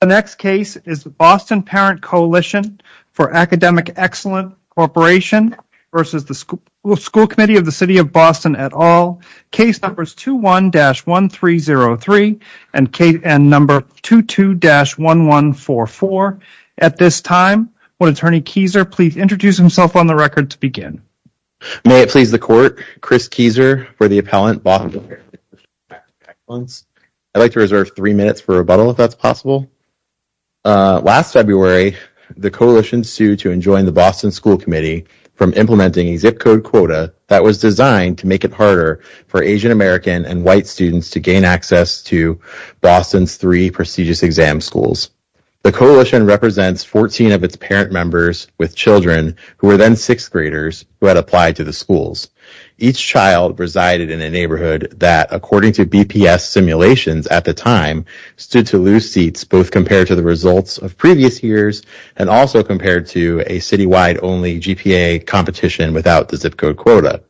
The next case is the Boston Parent Coalition for Academic Excellence Corp. v. The School Committee of the City of Boston et al. Case numbers 21-1303 and 22-1144. At this time, will Attorney Kieser please introduce himself on the record to begin. May it please the Court, Chris Kieser for the Appellant, Boston Parent Coalition for Academic Excellence. I'd like to reserve three minutes for rebuttal if that's possible. Last February, the Coalition sued to enjoin the Boston School Committee from implementing a zip code quota that was designed to make it harder for Asian American and white students to gain access to Boston's three prestigious exam schools. The Coalition represents 14 of its parent members with children who were then sixth graders who had applied to the schools. Each child resided in a neighborhood that, according to BPS simulations at the time, stood to lose seats both compared to the results of previous years and also compared to a citywide only GPA competition without the zip code quota.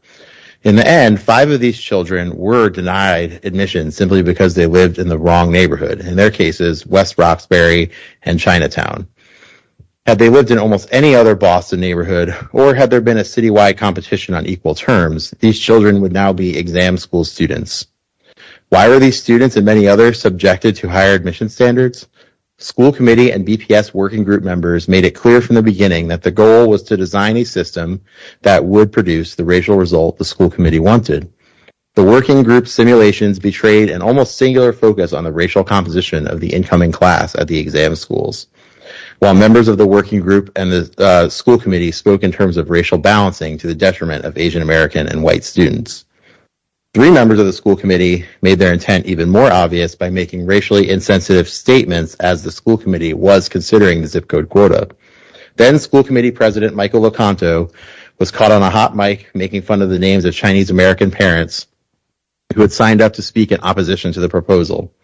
In the end, five of these children were denied admission simply because they lived in the wrong neighborhood. In their cases, West Roxbury and Chinatown. Had they lived in almost any other Boston neighborhood or had there been a citywide competition on equal terms, these children would now be exam school students. Why were these students and many others subjected to higher admission standards? School committee and BPS working group members made it clear from the beginning that the goal was to design a system that would produce the racial result the school committee wanted. The working group simulations betrayed an almost singular focus on the racial composition of the incoming class at the exam schools. While members of the working group and the school committee spoke in terms of racial balancing to the detriment of Asian American and white students. Three members of the school committee made their intent even more obvious by making racially insensitive statements as the school committee was considering the zip code quota. Then school committee president Michael Locanto was caught on a hot mic making fun of the names of Chinese American parents who had signed up to speak in opposition to the proposal.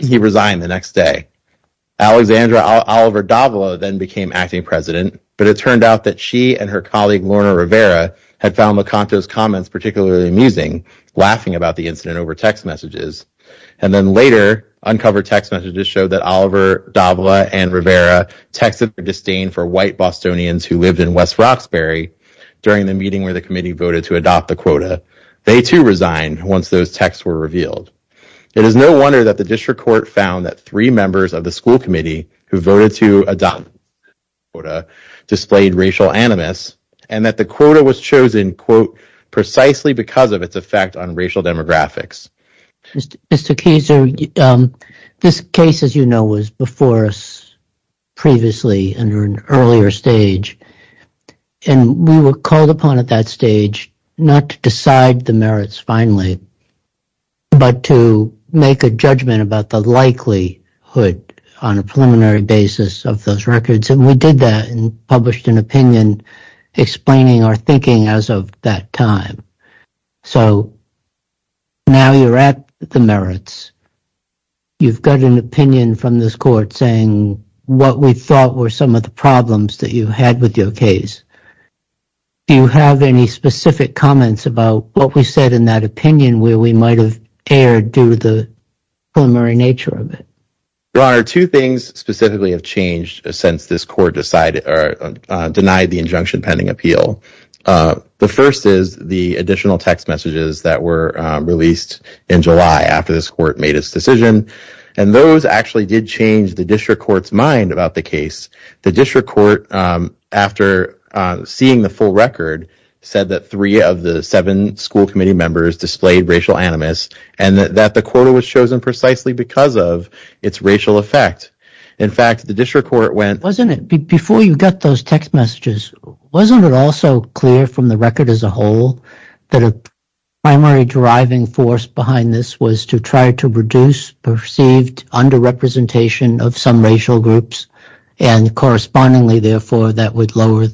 He resigned the next day. Alexandra Oliver Davila then became acting president, but it turned out that she and her colleague Lorna Rivera had found Locanto's comments particularly amusing, laughing about the incident over text messages. And then later, uncovered text messages showed that Oliver Davila and Rivera texted the disdain for white Bostonians who lived in West Roxbury during the meeting where the committee voted to adopt the quota. They, too, resigned once those texts were revealed. It is no wonder that the district court found that three members of the school committee who voted to adopt the quota displayed racial animus and that the quota was chosen, quote, precisely because of its effect on racial demographics. Mr. Keyser, this case, as you know, was before us previously under an earlier stage. And we were called upon at that stage not to decide the merits finally, but to make a judgment about the likelihood on a preliminary basis of those records. And we did that and published an opinion explaining our thinking as of that time. So now you're at the merits. You've got an opinion from this court saying what we thought were some of the problems that you had with your case. Do you have any specific comments about what we said in that opinion where we might have erred due to the preliminary nature of it? Your Honor, two things specifically have changed since this court decided or denied the injunction pending appeal. The first is the additional text messages that were released in July after this court made its decision. And those actually did change the district court's mind about the case. The district court, after seeing the full record, said that three of the seven school committee members displayed racial animus and that the quota was chosen precisely because of its racial effect. Before you got those text messages, wasn't it also clear from the record as a whole that a primary driving force behind this was to try to reduce perceived underrepresentation of some racial groups and correspondingly, therefore, that would lower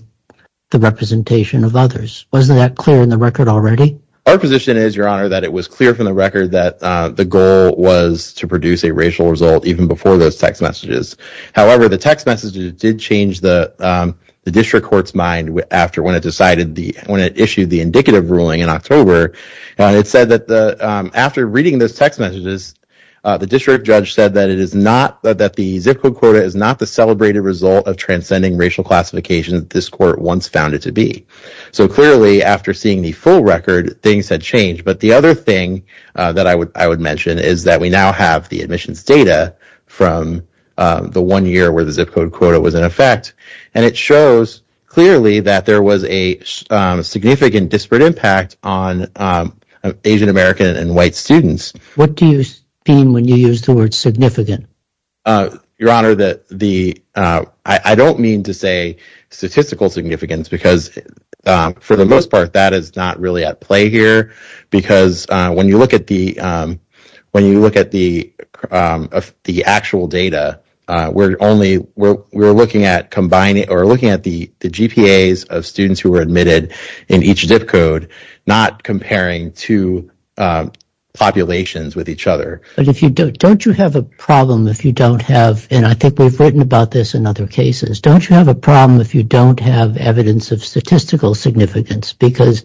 the representation of others? Wasn't that clear in the record already? Our position is, Your Honor, that it was clear from the record that the goal was to produce a racial result even before those text messages. However, the text messages did change the district court's mind when it issued the indicative ruling in October. It said that after reading those text messages, the district judge said that the zip code quota is not the celebrated result of transcending racial classification that this court once found it to be. So clearly, after seeing the full record, things had changed. But the other thing that I would mention is that we now have the admissions data from the one year where the zip code quota was in effect. And it shows clearly that there was a significant disparate impact on Asian American and white students. What do you mean when you use the word significant? Your Honor, I don't mean to say statistical significance because for the most part, that is not really at play here. Because when you look at the actual data, we're looking at the GPAs of students who were admitted in each zip code, not comparing two populations with each other. But don't you have a problem if you don't have, and I think we've written about this in other cases, don't you have a problem if you don't have evidence of statistical significance? Because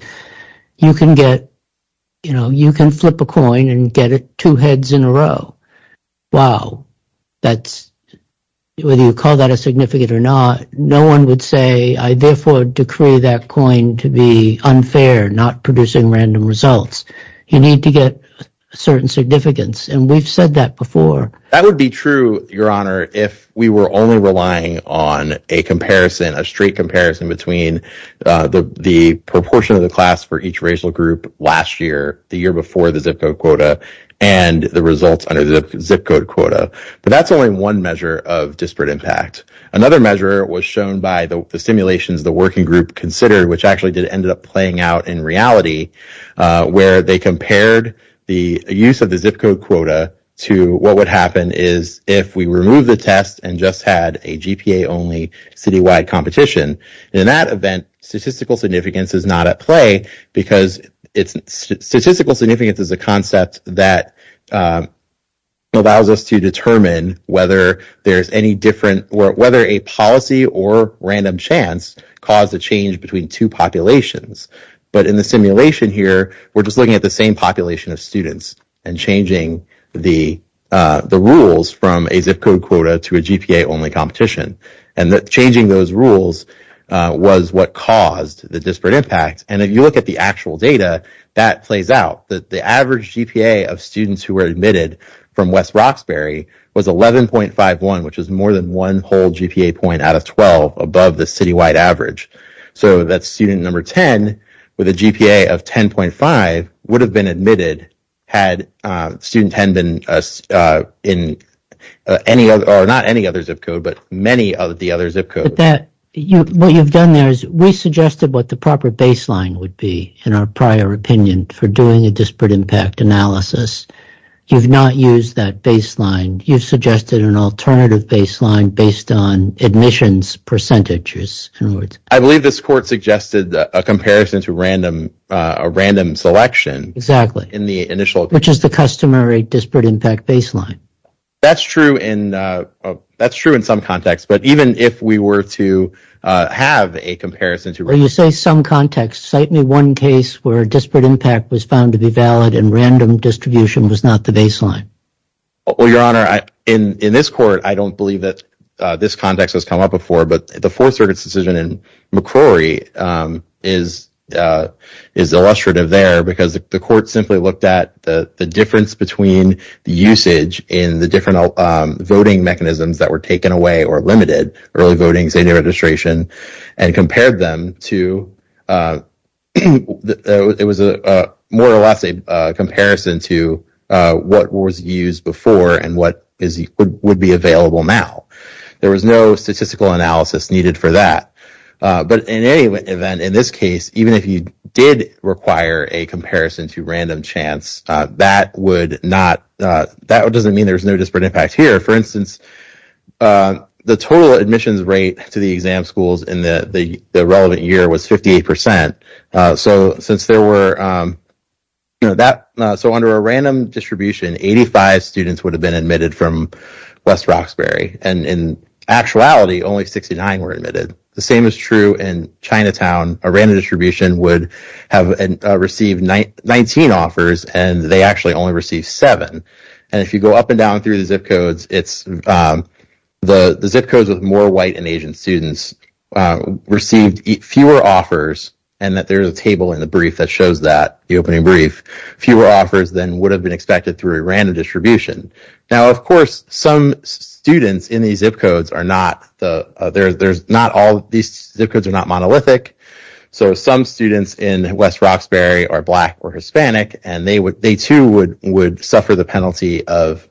you can flip a coin and get two heads in a row. Wow. Whether you call that a significant or not, no one would say, I therefore decree that coin to be unfair, not producing random results. You need to get certain significance, and we've said that before. That would be true, Your Honor, if we were only relying on a comparison, a straight comparison between the proportion of the class for each racial group last year, the year before the zip code quota, and the results under the zip code quota. But that's only one measure of disparate impact. Another measure was shown by the simulations the working group considered, which actually did end up playing out in reality, where they compared the use of the zip code quota to what would happen is if we remove the test and just had a GPA only citywide competition. And in that event, statistical significance is not at play because it's statistical significance is a concept that. Allows us to determine whether there's any different or whether a policy or random chance caused a change between two populations. But in the simulation here, we're just looking at the same population of students and changing the the rules from a zip code quota to a GPA only competition. And that changing those rules was what caused the disparate impact. And if you look at the actual data that plays out that the average GPA of students who were admitted from West Roxbury was eleven point five one, which is more than one whole GPA point out of twelve above the citywide average. So that's student number ten with a GPA of ten point five would have been admitted. Had student had been in any or not any other zip code, but many of the other zip code that you've done, there is we suggested what the proper baseline would be in our prior opinion for doing a disparate impact analysis. You've not used that baseline. You've suggested an alternative baseline based on admissions percentages. I believe this court suggested a comparison to random a random selection. Exactly. In the initial, which is the customary disparate impact baseline. That's true. And that's true in some context. But even if we were to have a comparison to where you say some context, cite me one case where a disparate impact was found to be valid and random distribution was not the baseline. Well, your honor, in this court, I don't believe that this context has come up before. But the Fourth Circuit's decision in McCrory is is illustrative there because the court simply looked at the difference between the usage in the different mechanisms that were taken away or limited early voting, senior registration, and compared them to. It was more or less a comparison to what was used before and what is would be available now. There was no statistical analysis needed for that. But in any event, in this case, even if you did require a comparison to random chance, that would not that doesn't mean there's no disparate impact here. For instance, the total admissions rate to the exam schools in the relevant year was 58 percent. So since there were that. So under a random distribution, 85 students would have been admitted from West Roxbury. And in actuality, only 69 were admitted. The same is true in Chinatown. A random distribution would have received 19 offers and they actually only received seven. And if you go up and down through the zip codes, it's the zip codes with more white and Asian students received fewer offers. And that there is a table in the brief that shows that the opening brief, fewer offers than would have been expected through a random distribution. Now, of course, some students in these zip codes are not the there's not all these zip codes are not monolithic. So some students in West Roxbury are black or Hispanic and they would they too would would suffer the penalty of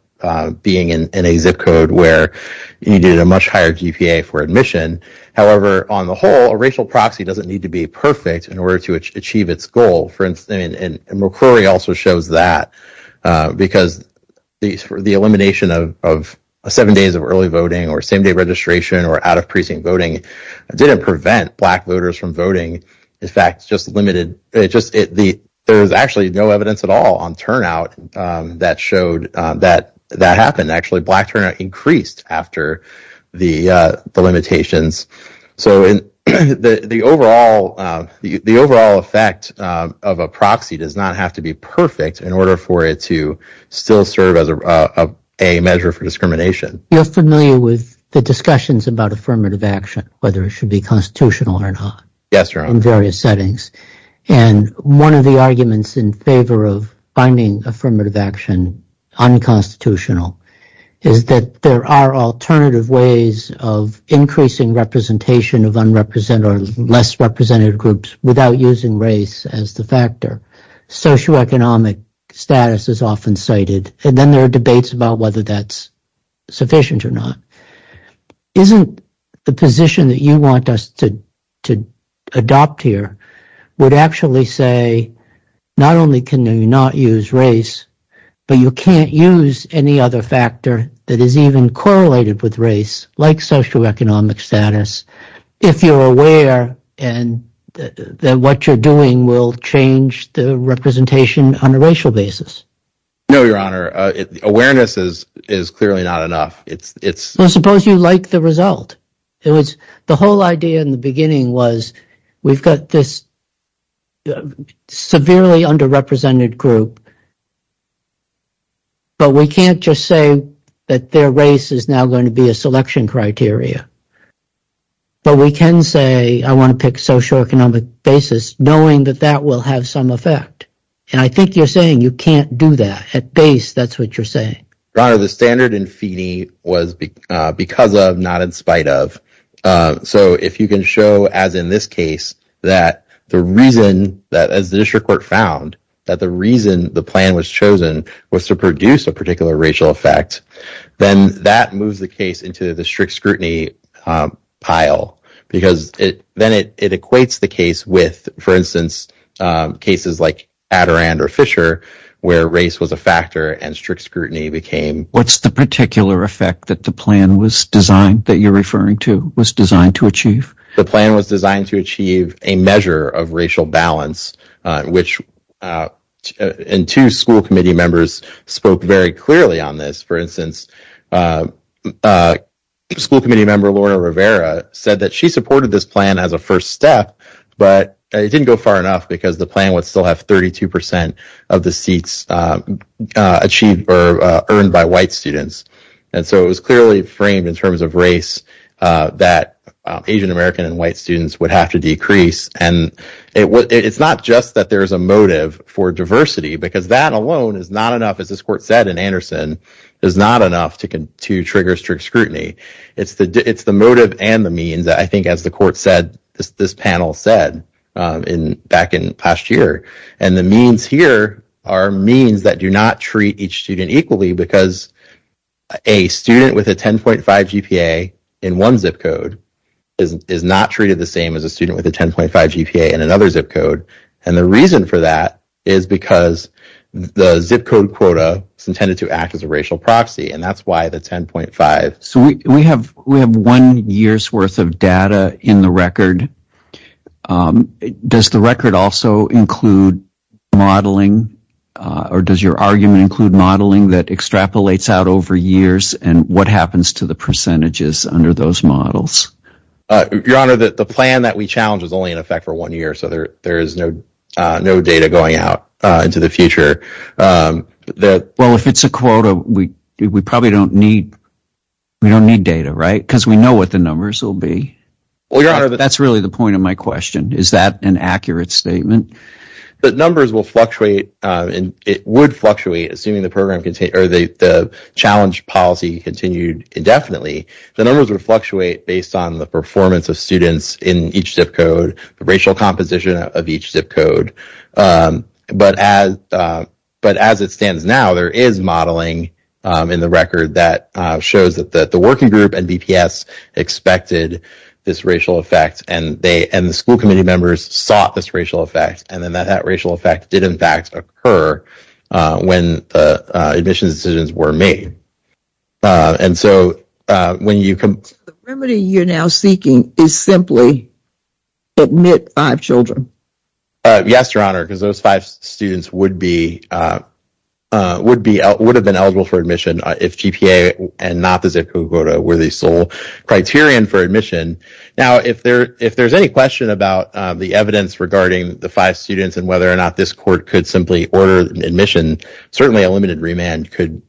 being in a zip code where you did a much higher GPA for admission. However, on the whole, a racial proxy doesn't need to be perfect in order to achieve its goal. For instance, and McCrory also shows that because these were the elimination of seven days of early voting or same day registration or out of precinct voting didn't prevent black voters from voting. In fact, just limited it just the there was actually no evidence at all on turnout that showed that that happened. Actually, black turnout increased after the limitations. So the overall the overall effect of a proxy does not have to be perfect in order for it to still serve as a measure for discrimination. You're familiar with the discussions about affirmative action, whether it should be constitutional or not. And one of the arguments in favor of finding affirmative action unconstitutional is that there are alternative ways of increasing representation of unrepresented or less represented groups without using race as the factor. Socioeconomic status is often cited and then there are debates about whether that's sufficient or not. Isn't the position that you want us to to adopt here would actually say not only can you not use race, but you can't use any other factor that is even correlated with race like socioeconomic status. If you're aware and then what you're doing will change the representation on a racial basis. No, Your Honor. Awareness is is clearly not enough. It's it's suppose you like the result. It was the whole idea in the beginning was we've got this severely underrepresented group. But we can't just say that their race is now going to be a selection criteria. But we can say I want to pick socioeconomic basis, knowing that that will have some effect. And I think you're saying you can't do that at base. That's what you're saying. Your Honor, the standard in Feeney was because of, not in spite of. So if you can show, as in this case, that the reason that as the district court found that the reason the plan was chosen was to produce a particular racial effect, then that moves the case into the strict scrutiny pile. Because then it equates the case with, for instance, cases like Adirondack or Fisher, where race was a factor and strict scrutiny became. What's the particular effect that the plan was designed that you're referring to was designed to achieve? The plan was designed to achieve a measure of racial balance, which in two school committee members spoke very clearly on this. For instance, school committee member Laura Rivera said that she supported this plan as a first step, but it didn't go far enough because the plan would still have 32 percent of the seats achieved or earned by white students. And so it was clearly framed in terms of race that Asian-American and white students would have to decrease. And it's not just that there is a motive for diversity, because that alone is not enough. As this court said in Anderson is not enough to to trigger strict scrutiny. It's the it's the motive and the means. I think as the court said, this panel said in back in past year and the means here are means that do not treat each student equally because a student with a 10.5 GPA in one zip code is not treated the same as a student with a 10.5 GPA and another zip code. And the reason for that is because the zip code quota is intended to act as a racial proxy. And that's why the 10.5. So we have we have one year's worth of data in the record. Does the record also include modeling or does your argument include modeling that extrapolates out over years? And what happens to the percentages under those models? Your Honor, the plan that we challenge is only in effect for one year. So there there is no no data going out into the future. Well, if it's a quota, we we probably don't need we don't need data, right? Because we know what the numbers will be. Well, your Honor, that's really the point of my question. Is that an accurate statement? The numbers will fluctuate and it would fluctuate assuming the program or the challenge policy continued indefinitely. The numbers would fluctuate based on the performance of students in each zip code, the racial composition of each zip code. But as but as it stands now, there is modeling in the record that shows that the working group and BPS expected this racial effect. And they and the school committee members sought this racial effect. And then that racial effect did, in fact, occur when the admissions decisions were made. And so when you come to the remedy you're now seeking is simply admit five children. Yes, Your Honor, because those five students would be would be would have been eligible for admission if GPA and not the zip code were the sole criterion for admission. Now, if there if there's any question about the evidence regarding the five students and whether or not this court could simply order admission, certainly a limited remand could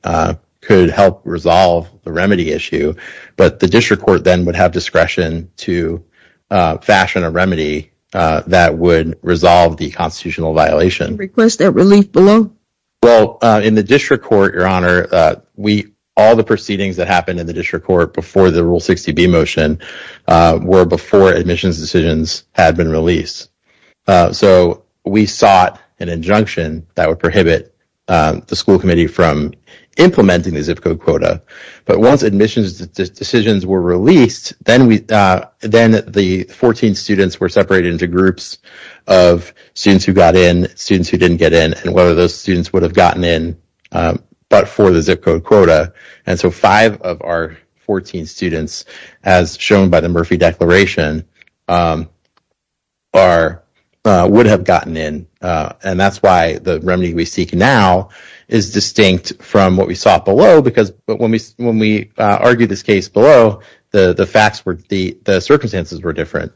could help resolve the remedy issue. But the district court then would have discretion to fashion a remedy that would resolve the constitutional violation request that relief below. Well, in the district court, Your Honor, we all the proceedings that happened in the district court before the rule 60 B motion were before admissions decisions had been released. So we sought an injunction that would prohibit the school committee from implementing the zip code quota. But once admissions decisions were released, then we then the 14 students were separated into groups of students who got in students who didn't get in. And whether those students would have gotten in but for the zip code quota. And so five of our 14 students, as shown by the Murphy declaration, are would have gotten in. And that's why the remedy we seek now is distinct from what we saw below, because when we when we argue this case below the facts were the circumstances were different.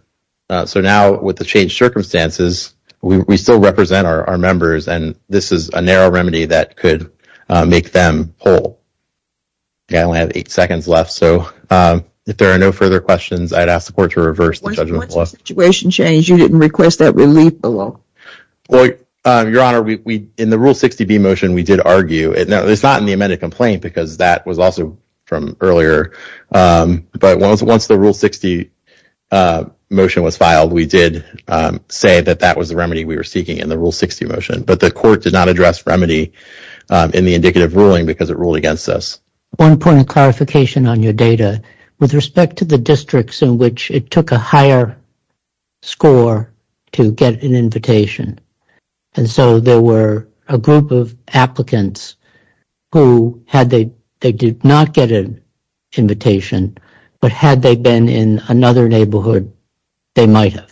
So now with the changed circumstances, we still represent our members and this is a narrow remedy that could make them whole. I only have eight seconds left, so if there are no further questions, I'd ask the court to reverse the judgment. Once the situation changed, you didn't request that relief below. Your Honor, we in the rule 60 B motion, we did argue. It's not in the amended complaint because that was also from earlier. But once once the rule 60 motion was filed, we did say that that was the remedy we were seeking in the rule 60 motion. But the court did not address remedy in the indicative ruling because it ruled against us. One point of clarification on your data with respect to the districts in which it took a higher score to get an invitation. And so there were a group of applicants who had they they did not get an invitation, but had they been in another neighborhood, they might have.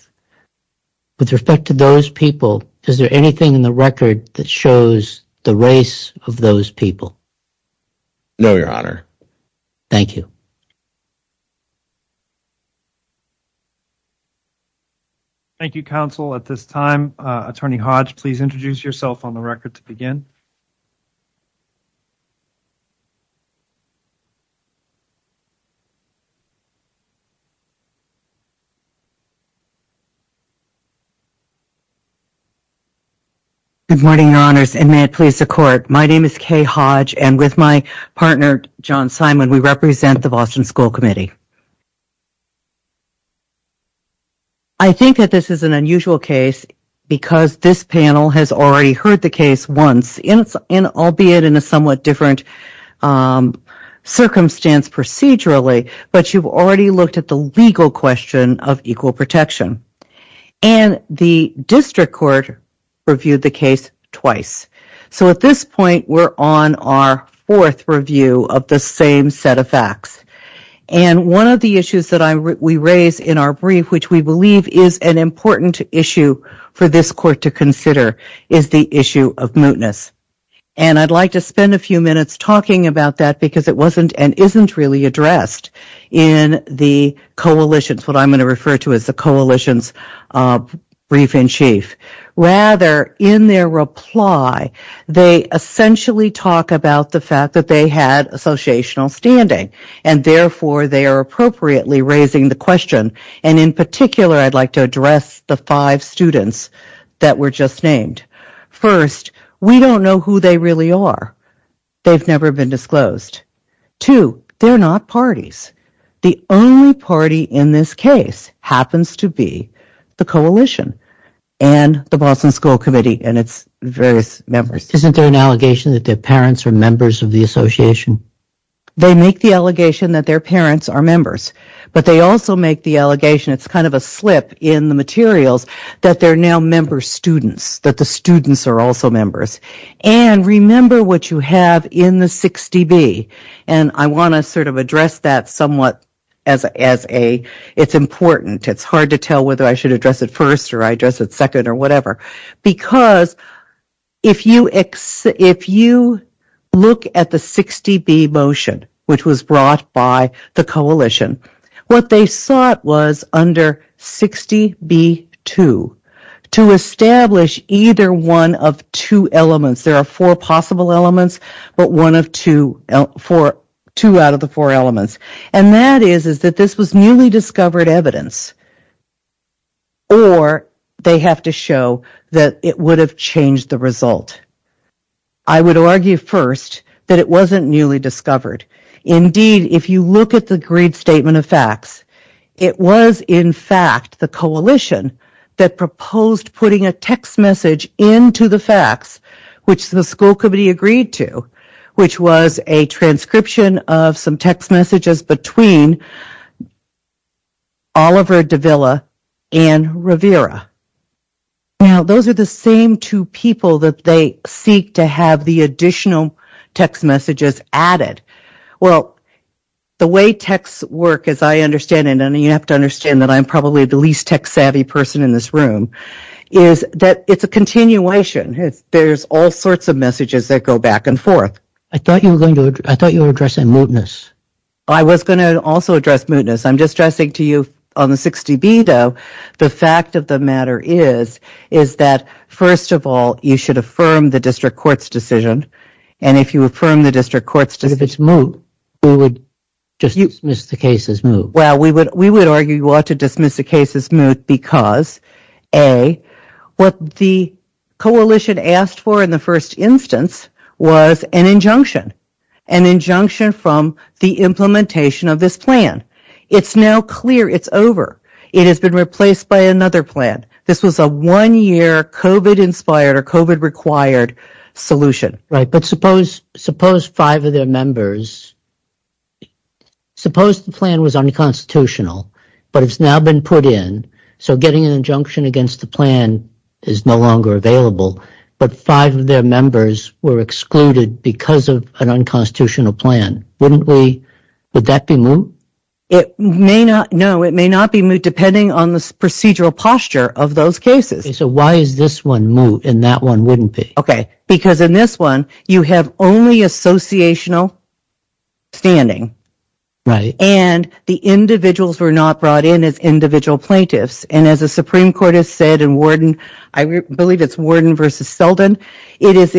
With respect to those people, is there anything in the record that shows the race of those people? No, Your Honor. Thank you. Thank you, counsel. At this time, Attorney Hodge, please introduce yourself on the record to begin. Good morning, Your Honors, and may it please the court. My name is Kay Hodge. And with my partner, John Simon, we represent the Boston School Committee. I think that this is an unusual case because this panel has already heard the case once, and albeit in a somewhat different circumstance procedurally. But you've already looked at the legal question of equal protection. And the district court reviewed the case twice. So at this point, we're on our fourth review of the same set of facts. And one of the issues that we raise in our brief, which we believe is an important issue for this court to consider, is the issue of mootness. And I'd like to spend a few minutes talking about that because it wasn't and isn't really addressed in the coalitions, what I'm going to refer to as the coalitions brief in chief. Rather, in their reply, they essentially talk about the fact that they had associational standing. And therefore, they are appropriately raising the question. And in particular, I'd like to address the five students that were just named. First, we don't know who they really are. They've never been disclosed. Two, they're not parties. The only party in this case happens to be the coalition and the Boston School Committee and its various members. Isn't there an allegation that their parents are members of the association? They make the allegation that their parents are members. But they also make the allegation, it's kind of a slip in the materials, that they're now member students, that the students are also members. And remember what you have in the 6DB. And I want to sort of address that somewhat as it's important. It's hard to tell whether I should address it first or I address it second or whatever. Because if you look at the 6DB motion, which was brought by the coalition, what they sought was under 6DB2 to establish either one of two elements. There are four possible elements, but one of two out of the four elements. And that is that this was newly discovered evidence. Or they have to show that it would have changed the result. I would argue first that it wasn't newly discovered. Indeed, if you look at the agreed statement of facts, it was in fact the coalition that proposed putting a text message into the facts, which the school committee agreed to. Which was a transcription of some text messages between Oliver Davila and Rivera. Now, those are the same two people that they seek to have the additional text messages added. Well, the way texts work, as I understand it, and you have to understand that I'm probably the least text savvy person in this room, is that it's a continuation. There's all sorts of messages that go back and forth. I thought you were addressing mootness. I was going to also address mootness. I'm just stressing to you on the 6DB2, the fact of the matter is that first of all, you should affirm the district court's decision. And if you affirm the district court's decision... But if it's moot, we would just dismiss the case as moot. Well, we would argue you ought to dismiss the case as moot because, A, what the coalition asked for in the first instance was an injunction. An injunction from the implementation of this plan. It's now clear it's over. It has been replaced by another plan. This was a one-year COVID-inspired or COVID-required solution. Right, but suppose five of their members... Suppose the plan was unconstitutional, but it's now been put in. So getting an injunction against the plan is no longer available. But five of their members were excluded because of an unconstitutional plan. Would that be moot? No, it may not be moot depending on the procedural posture of those cases. So why is this one moot and that one wouldn't be? Because in this one, you have only associational standing. And the individuals were not brought in as individual plaintiffs. And as the Supreme Court has said in Warden, I believe it's Warden v. Selden, it is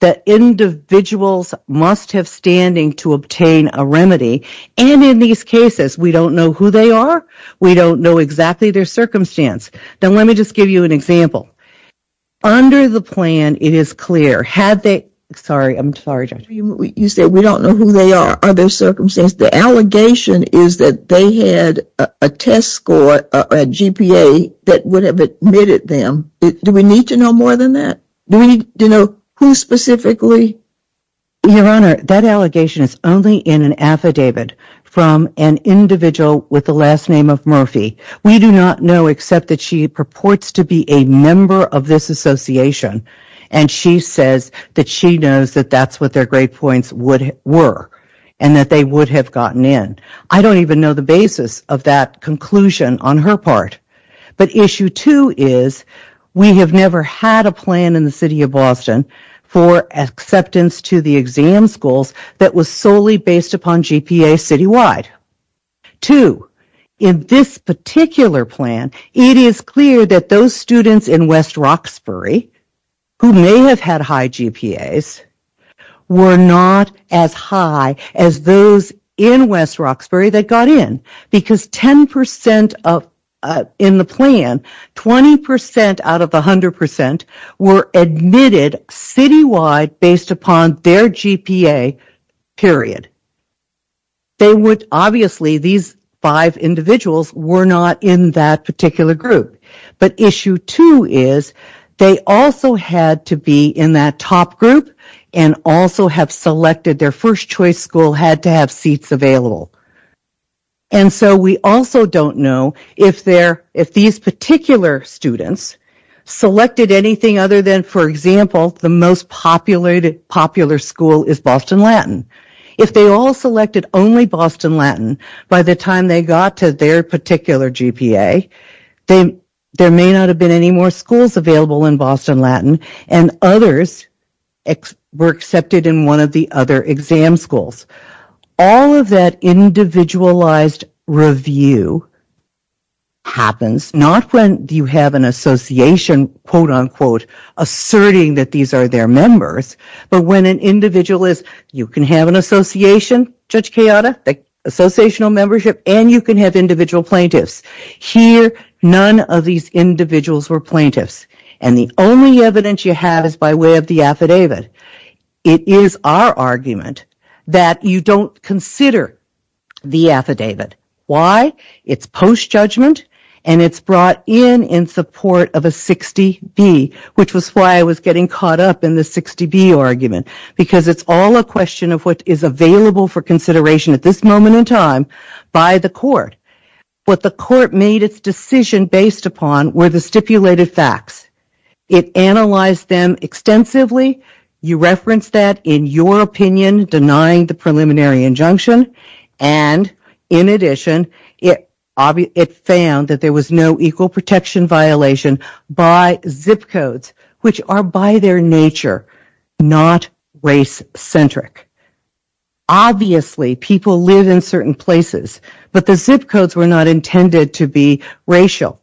that individuals must have standing to obtain a remedy. And in these cases, we don't know who they are. We don't know exactly their circumstance. Now, let me just give you an example. Under the plan, it is clear. Had they... Sorry, I'm sorry, Judge. You said we don't know who they are or their circumstance. The allegation is that they had a test score, a GPA, that would have admitted them. Do we need to know more than that? Do we need to know who specifically? Your Honor, that allegation is only in an affidavit from an individual with the last name of Murphy. We do not know except that she purports to be a member of this association. And she says that she knows that that's what their grade points were and that they would have gotten in. I don't even know the basis of that conclusion on her part. But issue two is we have never had a plan in the city of Boston for acceptance to the exam schools that was solely based upon GPA citywide. Two, in this particular plan, it is clear that those students in West Roxbury who may have had high GPAs were not as high as those in West Roxbury that got in. Because 10% in the plan, 20% out of 100% were admitted citywide based upon their GPA, period. They would, obviously, these five individuals were not in that particular group. But issue two is they also had to be in that top group and also have selected their first choice school had to have seats available. And so we also don't know if these particular students selected anything other than, for example, the most popular school is Boston Latin. If they all selected only Boston Latin by the time they got to their particular GPA, there may not have been any more schools available in Boston Latin and others were accepted in one of the other exam schools. All of that individualized review happens not when you have an association, quote, unquote, asserting that these are their members, but when an individual is, you can have an association, Judge Kayada, the associational membership, and you can have individual plaintiffs. Here, none of these individuals were plaintiffs. And the only evidence you have is by way of the affidavit. It is our argument that you don't consider the affidavit. Why? It's post-judgment and it's brought in in support of a 60B, which was why I was getting caught up in the 60B argument, because it's all a question of what is available for consideration at this moment in time by the court. What the court made its decision based upon were the stipulated facts. It analyzed them extensively. You referenced that in your opinion, denying the preliminary injunction. And in addition, it found that there was no equal protection violation by zip codes, which are by their nature not race-centric. Obviously, people live in certain places, but the zip codes were not intended to be racial.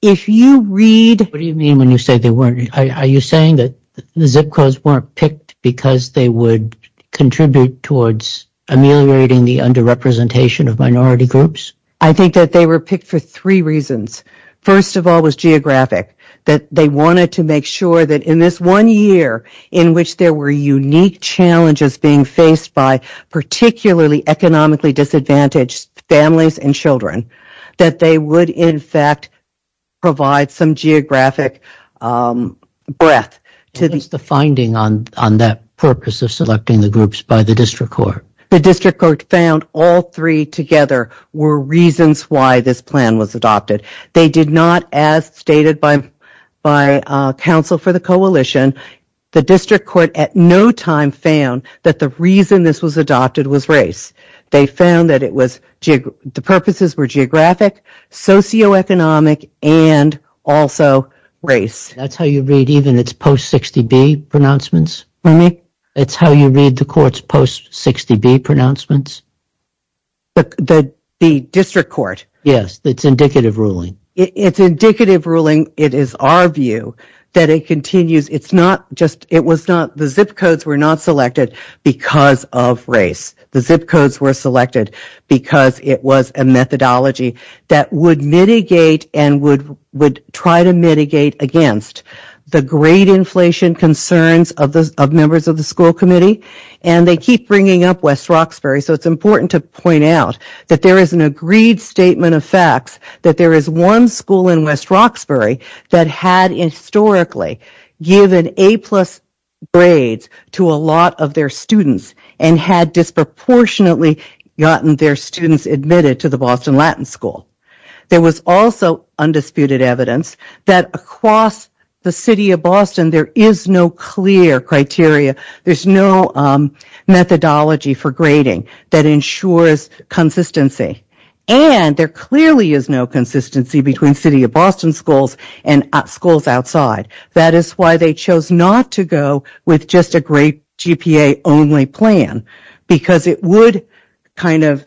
If you read... What do you mean when you say they weren't? Are you saying that the zip codes weren't picked because they would contribute towards ameliorating the underrepresentation of minority groups? I think that they were picked for three reasons. First of all, it was geographic, that they wanted to make sure that in this one year in which there were unique challenges being faced by particularly economically disadvantaged families and children, that they would, in fact, provide some geographic breadth. What's the finding on that purpose of selecting the groups by the district court? The district court found all three together were reasons why this plan was adopted. They did not, as stated by counsel for the coalition, the district court at no time found that the reason this was adopted was race. They found that the purposes were geographic, socioeconomic, and also race. That's how you read even its post-60B pronouncements for me? That's how you read the court's post-60B pronouncements? The district court? Yes. It's indicative ruling. It's indicative ruling. It is our view that it continues. It's not just... It was not... The zip codes were not selected because of race. The zip codes were selected because it was a methodology that would mitigate and would try to mitigate against the grade inflation concerns of members of the school committee, and they keep bringing up West Roxbury. So it's important to point out that there is an agreed statement of facts that there is one school in West Roxbury that had historically given A-plus grades to a lot of their students and had disproportionately gotten their students admitted to the Boston Latin School. There was also undisputed evidence that across the city of Boston there is no clear criteria. There's no methodology for grading that ensures consistency, and there clearly is no consistency between city of Boston schools and schools outside. That is why they chose not to go with just a grade GPA only plan because it would kind of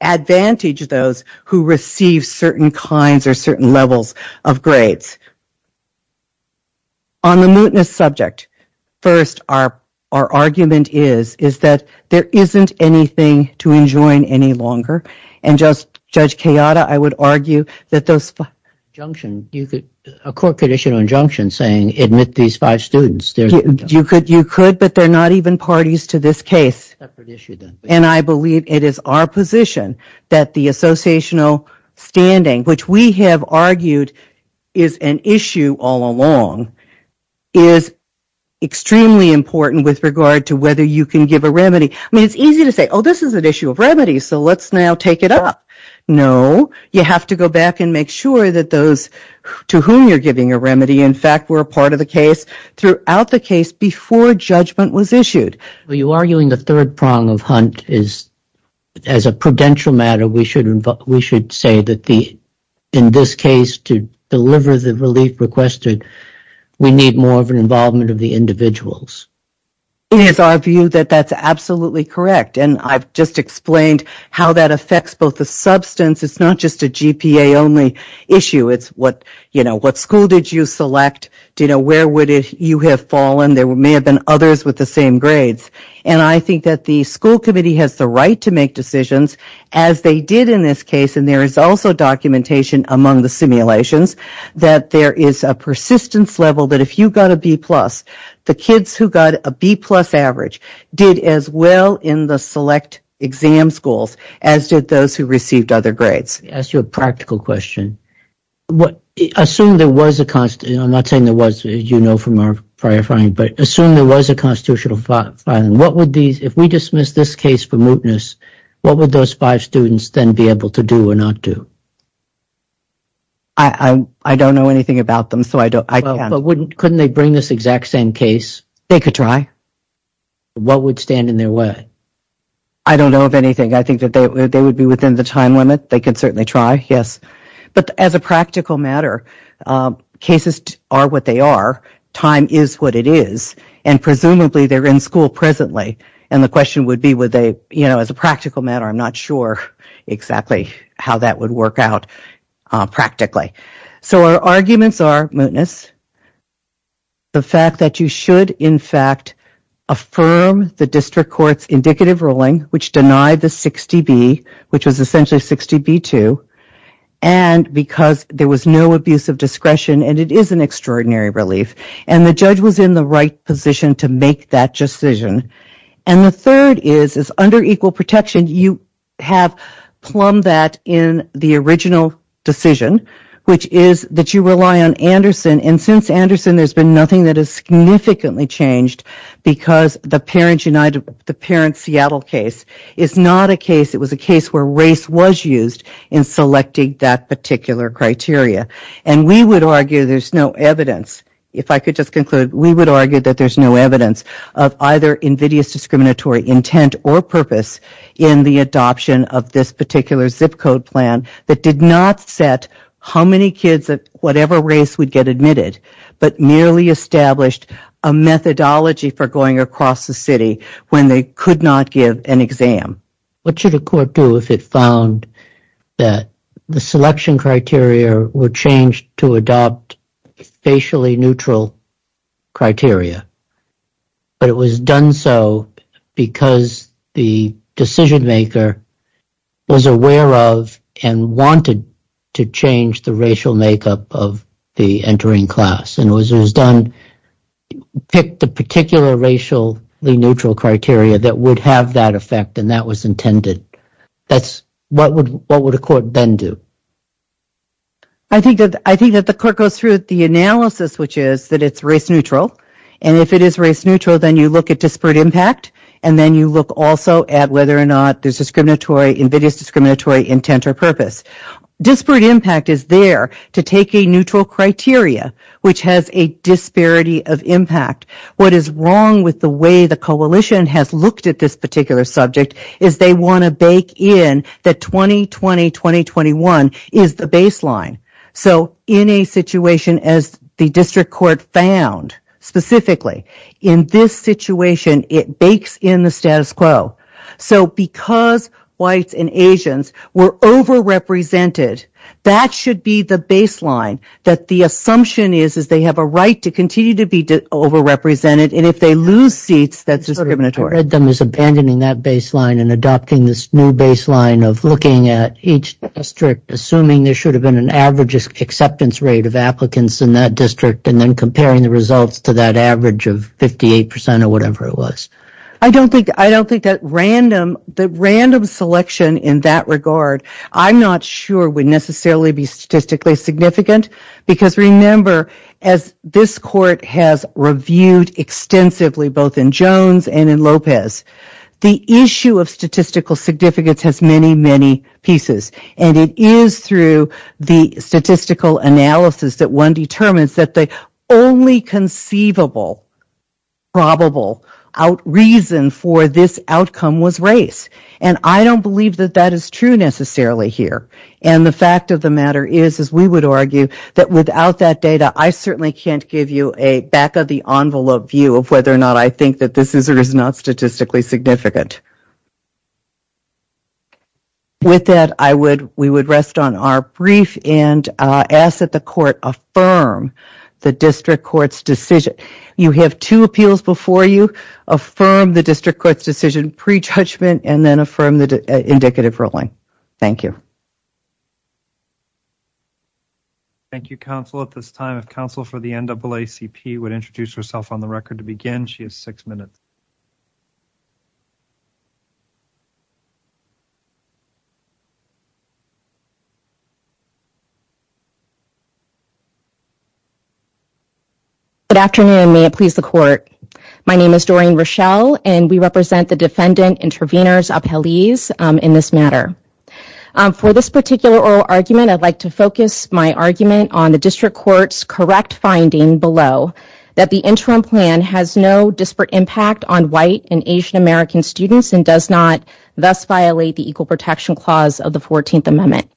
advantage those who receive certain kinds or certain levels of grades. On the mootness subject, first our argument is that there isn't anything to enjoin any longer, and Judge Kayada, I would argue that those five... A court could issue an injunction saying, You could, but they're not even parties to this case. And I believe it is our position that the associational standing, which we have argued is an issue all along, is extremely important with regard to whether you can give a remedy. I mean, it's easy to say, oh, this is an issue of remedy, so let's now take it up. No, you have to go back and make sure that those to whom you're giving a remedy, in fact, were a part of the case throughout the case before judgment was issued. Are you arguing the third prong of Hunt is, as a prudential matter, we should say that in this case to deliver the relief requested, we need more of an involvement of the individuals? It is our view that that's absolutely correct, and I've just explained how that affects both the substance. It's not just a GPA only issue. It's what school did you select? Where would you have fallen? There may have been others with the same grades. And I think that the school committee has the right to make decisions, as they did in this case, and there is also documentation among the simulations, that there is a persistence level that if you got a B+, the kids who got a B-plus average did as well in the select exam schools as did those who received other grades. Let me ask you a practical question. Assume there was a constitutional, I'm not saying there was, as you know from our prior finding, but assume there was a constitutional filing. If we dismiss this case for mootness, what would those five students then be able to do or not do? I don't know anything about them, so I can't. Couldn't they bring this exact same case? They could try. What would stand in their way? I don't know of anything. I think that they would be within the time limit. They could certainly try, yes. But as a practical matter, cases are what they are, time is what it is, and presumably they're in school presently. And the question would be would they, you know, as a practical matter, I'm not sure exactly how that would work out practically. So our arguments are mootness, the fact that you should, in fact, affirm the district court's indicative ruling, which denied the 60B, which was essentially 60B2, and because there was no abuse of discretion and it is an extraordinary relief. And the judge was in the right position to make that decision. And the third is under equal protection you have plumbed that in the original decision, which is that you rely on Anderson. And since Anderson there's been nothing that has significantly changed because the Parents United, the Parents Seattle case is not a case, it was a case where race was used in selecting that particular criteria. And we would argue there's no evidence, if I could just conclude, we would argue that there's no evidence of either invidious discriminatory intent or purpose in the adoption of this particular zip code plan that did not set how many kids, whatever race would get admitted, but merely established a methodology for going across the city when they could not give an exam. What should a court do if it found that the selection criteria were changed to adopt facially neutral criteria, but it was done so because the decision maker was aware of and wanted to change the racial makeup of the entering class and it was done to pick the particular racially neutral criteria that would have that effect and that was intended. What would a court then do? I think that the court goes through the analysis, which is that it's race neutral. And if it is race neutral, then you look at disparate impact and then you look also at whether or not there's invidious discriminatory intent or purpose. Disparate impact is there to take a neutral criteria, which has a disparity of impact. What is wrong with the way the coalition has looked at this particular subject is they want to bake in that 2020-2021 is the baseline. So in a situation as the district court found specifically, in this situation it bakes in the status quo. So because whites and Asians were overrepresented, that should be the baseline that the assumption is that they have a right to continue to be overrepresented and if they lose seats, that's discriminatory. Abandoning that baseline and adopting this new baseline of looking at each district, assuming there should have been an average acceptance rate of applicants in that district and then comparing the results to that average of 58% or whatever it was. I don't think that random selection in that regard, I'm not sure would necessarily be statistically significant because remember, as this court has reviewed extensively both in Jones and in Lopez, the issue of statistical significance has many, many pieces and it is through the statistical analysis that one determines that the only conceivable probable reason for this outcome was race and I don't believe that that is true necessarily here and the fact of the matter is, as we would argue, that without that data, I certainly can't give you a back-of-the-envelope view of whether or not I think that this is or is not statistically significant. With that, we would rest on our brief and ask that the court affirm the district court's decision. You have two appeals before you. Affirm the district court's decision pre-judgment and then affirm the indicative ruling. Thank you. Thank you, counsel. At this time, if counsel for the NAACP would introduce herself on the record to begin, she has six minutes. Thank you. Good afternoon. May it please the court. My name is Doreen Rochelle and we represent the Defendant Intervenors Appealees in this matter. For this particular oral argument, I'd like to focus my argument on the district court's correct finding below that the interim plan has no disparate impact on white and Asian American students and does not thus violate the Equal Protection Clause of the 14th Amendment.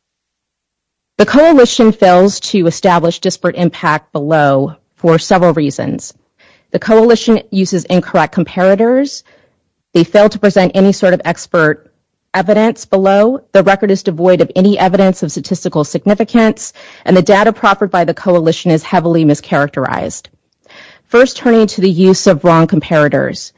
The coalition fails to establish disparate impact below for several reasons. The coalition uses incorrect comparators. They fail to present any sort of expert evidence below. The record is devoid of any evidence of statistical significance and the data proffered by the coalition is heavily mischaracterized. First, turning to the use of wrong comparators.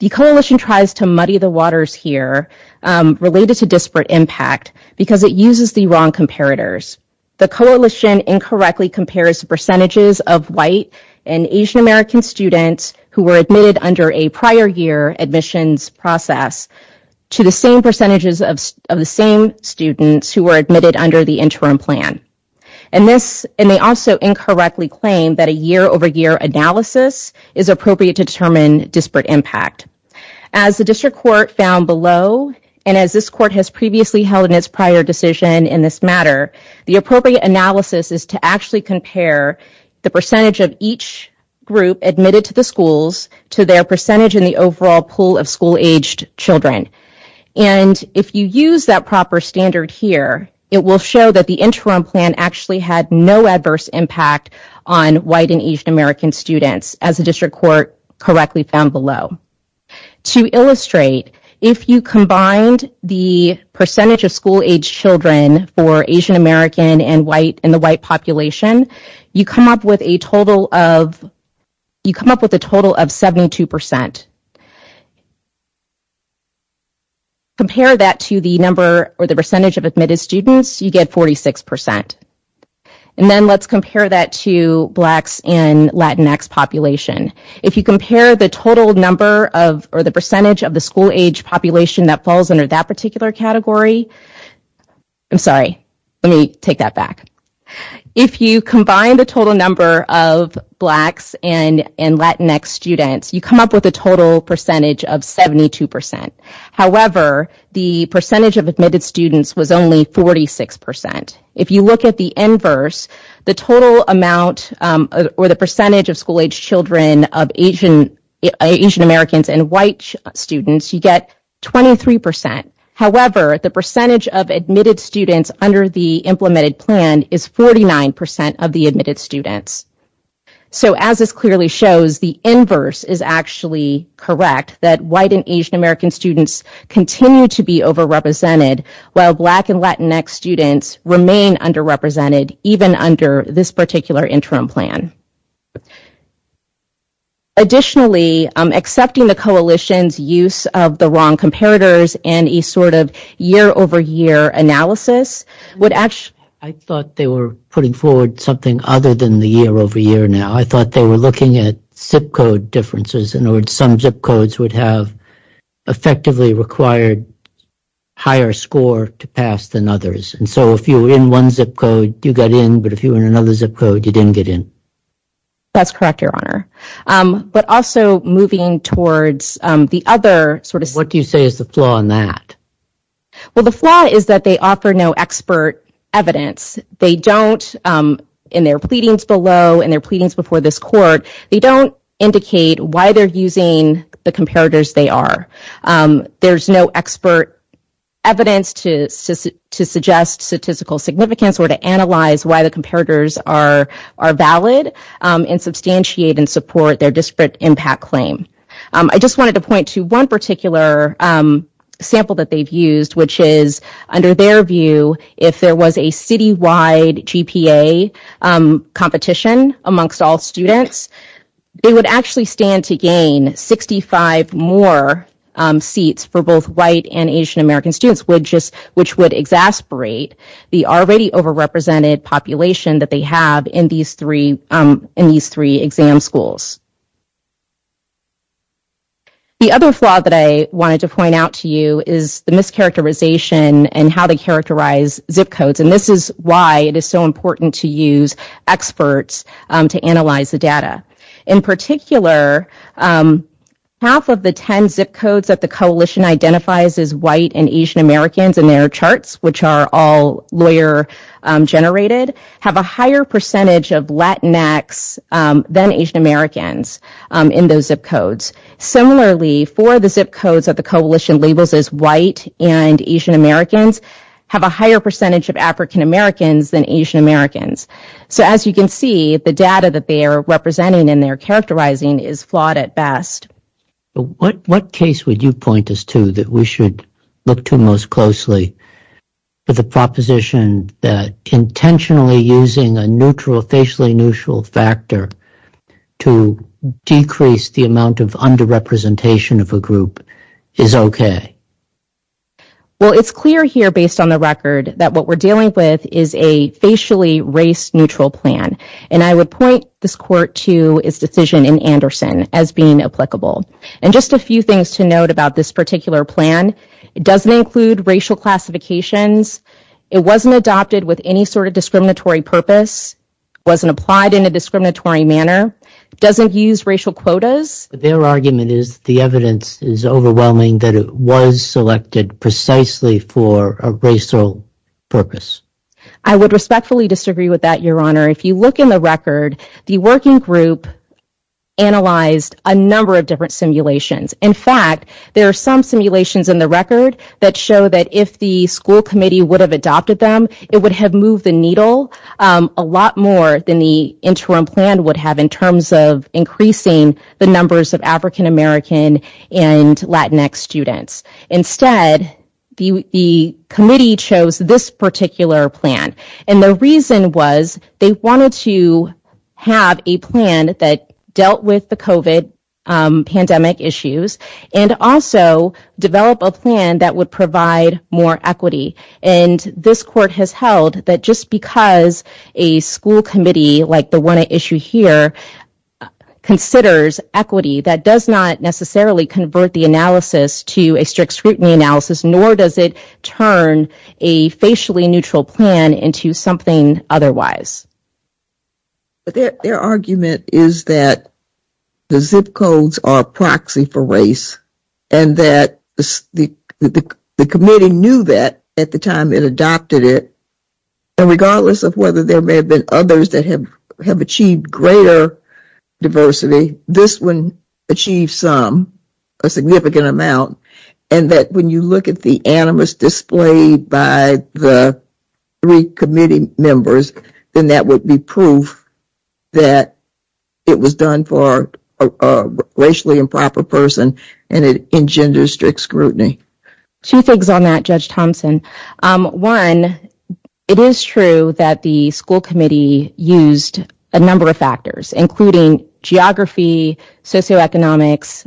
The coalition tries to muddy the waters here related to disparate impact because it uses the wrong comparators. The coalition incorrectly compares percentages of white and Asian American students who were admitted under a prior year admissions process to the same percentages of the same students who were admitted under the interim plan. And they also incorrectly claim that a year-over-year analysis is appropriate to determine disparate impact. As the district court found below, and as this court has previously held in its prior decision in this matter, the appropriate analysis is to actually compare the percentage of each group admitted to the schools to their percentage in the overall pool of school-aged children. And if you use that proper standard here, it will show that the interim plan actually had no adverse impact on white and Asian American students, as the district court correctly found below. To illustrate, if you combined the percentage of school-aged children for Asian American and the white population, you come up with a total of 72%. Compare that to the number or the percentage of admitted students, you get 46%. And then let's compare that to blacks and Latinx population. If you compare the total number or the percentage of the school-aged population that falls under that particular category, I'm sorry, let me take that back. If you combine the total number of blacks and Latinx students, you come up with a total percentage of 72%. However, the percentage of admitted students was only 46%. If you look at the inverse, the total amount or the percentage of school-aged children of Asian Americans and white students, you get 23%. However, the percentage of admitted students under the implemented plan is 49% of the admitted students. So as this clearly shows, the inverse is actually correct, that white and Asian American students continue to be overrepresented while black and Latinx students remain underrepresented, even under this particular interim plan. Additionally, accepting the coalition's use of the wrong comparators and a sort of year-over-year analysis would actually – I thought they were putting forward something other than the year-over-year now. I thought they were looking at zip code differences. In other words, some zip codes would have effectively required higher score to pass than others. And so if you were in one zip code, you got in, but if you were in another zip code, you didn't get in. That's correct, Your Honor. But also moving towards the other sort of – Well, the flaw is that they offer no expert evidence. They don't, in their pleadings below and their pleadings before this court, they don't indicate why they're using the comparators they are. There's no expert evidence to suggest statistical significance or to analyze why the comparators are valid and substantiate and support their disparate impact claim. I just wanted to point to one particular sample that they've used, which is under their view, if there was a citywide GPA competition amongst all students, they would actually stand to gain 65 more seats for both white and Asian American students, which would exasperate the already overrepresented population that they have in these three exam schools. The other flaw that I wanted to point out to you is the mischaracterization and how they characterize zip codes. And this is why it is so important to use experts to analyze the data. In particular, half of the 10 zip codes that the coalition identifies as white and Asian Americans in their charts, which are all lawyer-generated, have a higher percentage of Latinx than Asian Americans in those zip codes. Similarly, four of the zip codes that the coalition labels as white and Asian Americans have a higher percentage of African Americans than Asian Americans. So as you can see, the data that they are representing and they are characterizing is flawed at best. What case would you point us to that we should look to most closely for the proposition that intentionally using a neutral, facially neutral factor to decrease the amount of underrepresentation of a group is okay? Well, it's clear here based on the record that what we're dealing with is a facially race-neutral plan. And I would point this court to its decision in Anderson as being applicable. And just a few things to note about this particular plan, it doesn't include racial classifications. It wasn't adopted with any sort of discriminatory purpose. It wasn't applied in a discriminatory manner. It doesn't use racial quotas. Their argument is that the evidence is overwhelming that it was selected precisely for a racial purpose. I would respectfully disagree with that, Your Honor. If you look in the record, the working group analyzed a number of different simulations. In fact, there are some simulations in the record that show that if the school committee would have adopted them, it would have moved the needle a lot more than the interim plan would have in terms of increasing the numbers of African American and Latinx students. Instead, the committee chose this particular plan. And the reason was they wanted to have a plan that dealt with the COVID pandemic issues and also develop a plan that would provide more equity. And this court has held that just because a school committee like the one at issue here considers equity, that does not necessarily convert the analysis to a strict scrutiny analysis, nor does it turn a facially-neutral plan into something otherwise. But their argument is that the zip codes are a proxy for race and that the committee knew that at the time it adopted it, and regardless of whether there may have been others that have achieved greater diversity, this one achieved some, a significant amount, and that when you look at the animus displayed by the three committee members, then that would be proof that it was done for a racially improper person and it engenders strict scrutiny. Two things on that, Judge Thompson. One, it is true that the school committee used a number of factors, including geography, socioeconomics,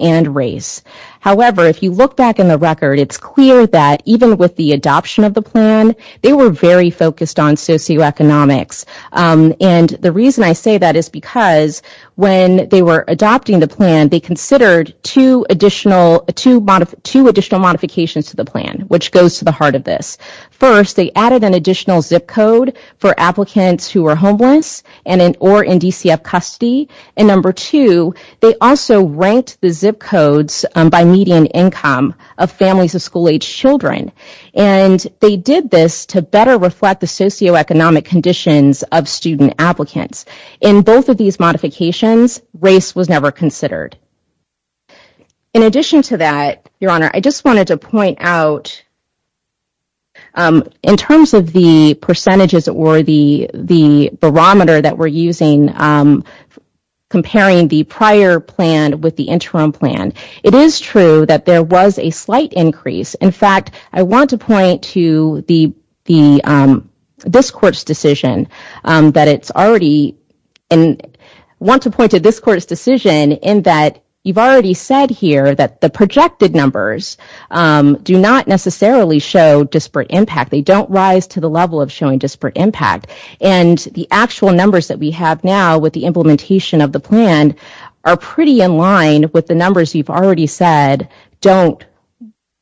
and race. However, if you look back in the record, it's clear that even with the adoption of the plan, they were very focused on socioeconomics. And the reason I say that is because when they were adopting the plan, they considered two additional modifications to the plan, which goes to the heart of this. First, they added an additional zip code for applicants who are homeless or in DCF custody. And number two, they also ranked the zip codes by median income of families of school-age children. And they did this to better reflect the socioeconomic conditions of student applicants. In both of these modifications, race was never considered. In addition to that, Your Honor, I just wanted to point out, in terms of the percentages or the barometer that we're using, comparing the prior plan with the interim plan, it is true that there was a slight increase. In fact, I want to point to this Court's decision in that you've already said here that the projected numbers do not necessarily show disparate impact. They don't rise to the level of showing disparate impact. And the actual numbers that we have now with the implementation of the plan are pretty in line with the numbers you've already said don't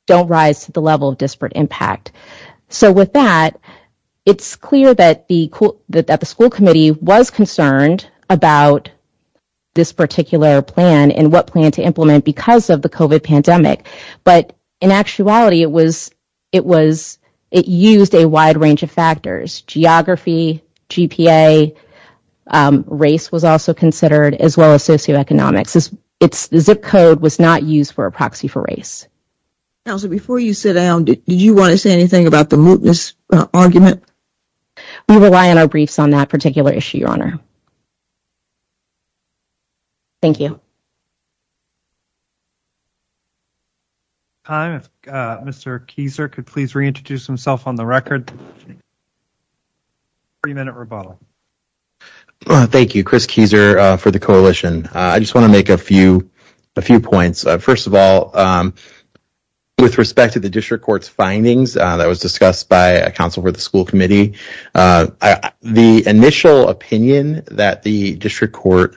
rise to the level of disparate impact. So with that, it's clear that the school committee was concerned about this particular plan and what plan to implement because of the COVID pandemic. But in actuality, it used a wide range of factors. Geography, GPA, race was also considered as well as socioeconomics. Its zip code was not used for a proxy for race. Counselor, before you sit down, did you want to say anything about the mootness argument? We rely on our briefs on that particular issue, Your Honor. Thank you. At this time, if Mr. Kieser could please reintroduce himself on the record. 30-minute rebuttal. Thank you, Chris Kieser for the coalition. I just want to make a few points. First of all, with respect to the district court's findings that was discussed by a counsel for the school committee, the initial opinion that the district court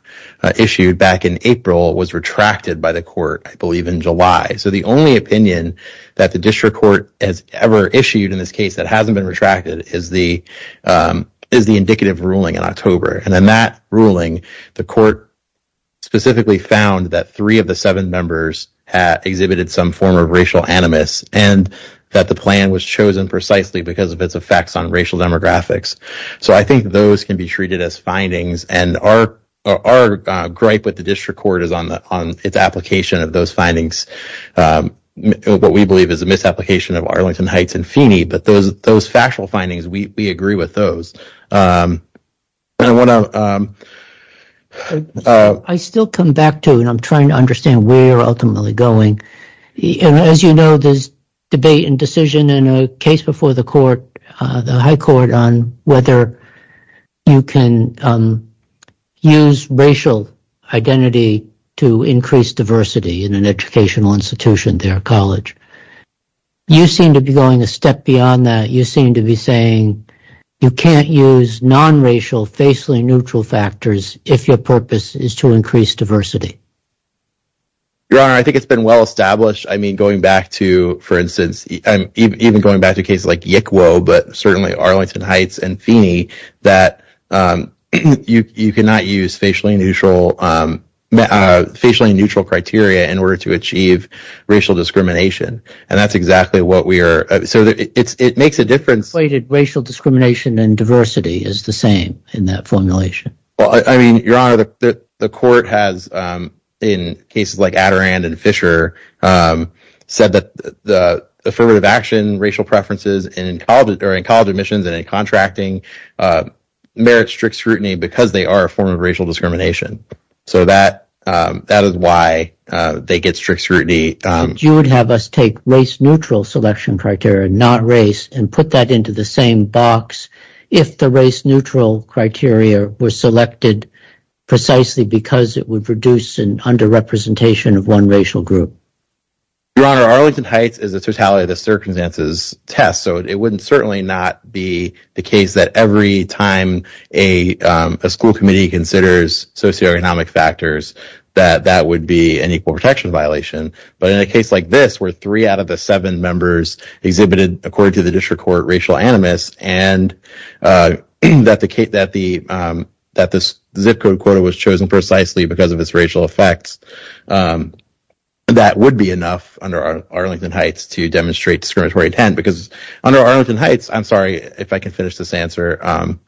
issued back in April was retracted by the court, I believe, in July. So the only opinion that the district court has ever issued in this case that hasn't been retracted is the indicative ruling in October. And in that ruling, the court specifically found that three of the seven members exhibited some form of racial animus and that the plan was chosen precisely because of its effects on racial demographics. So I think those can be treated as findings, and our gripe with the district court is on its application of those findings, what we believe is a misapplication of Arlington Heights and Feeney, but those factual findings, we agree with those. I still come back to, and I'm trying to understand where you're ultimately going. As you know, there's debate and decision in a case before the court, the high court, on whether you can use racial identity to increase diversity in an educational institution there, a college. You seem to be going a step beyond that. You seem to be saying you can't use nonracial, facially neutral factors if your purpose is to increase diversity. Your Honor, I think it's been well established. I mean, going back to, for instance, even going back to cases like Yickwo, but certainly Arlington Heights and Feeney, that you cannot use facially neutral criteria in order to achieve racial discrimination. And that's exactly what we are. So it makes a difference. Racial discrimination and diversity is the same in that formulation. Well, I mean, Your Honor, the court has, in cases like Adirond and Fisher, said that the affirmative action racial preferences in college admissions and in contracting merits strict scrutiny because they are a form of racial discrimination. So that is why they get strict scrutiny. You would have us take race-neutral selection criteria, not race, and put that into the same box if the race-neutral criteria were selected precisely because it would produce an underrepresentation of one racial group. Your Honor, Arlington Heights is a totality of the circumstances test, so it would certainly not be the case that every time a school committee considers socioeconomic factors that that would be an equal protection violation. But in a case like this, where three out of the seven members exhibited, according to the district court, racial animus, and that the zip code quota was chosen precisely because of its racial effects, that would be enough under Arlington Heights to demonstrate discriminatory intent. Because under Arlington Heights, I'm sorry if I can finish this answer, one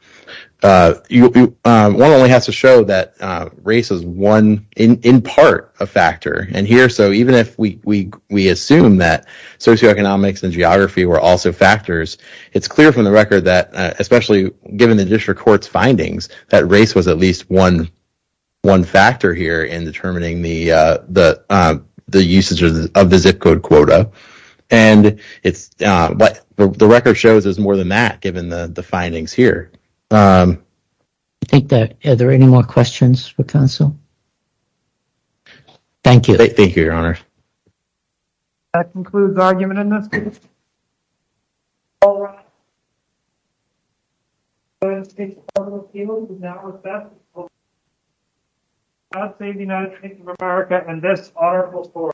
only has to show that race is one, in part, a factor. And here, so even if we assume that socioeconomics and geography were also factors, it's clear from the record that, especially given the district court's findings, that race was at least one factor here in determining the usage of the zip code quota. And the record shows there's more than that, given the findings here. I think that, are there any more questions for counsel? Thank you. Thank you, Your Honor. That concludes the argument in this case. All rise. This case is now recessed. God save the United States of America and this honorable court.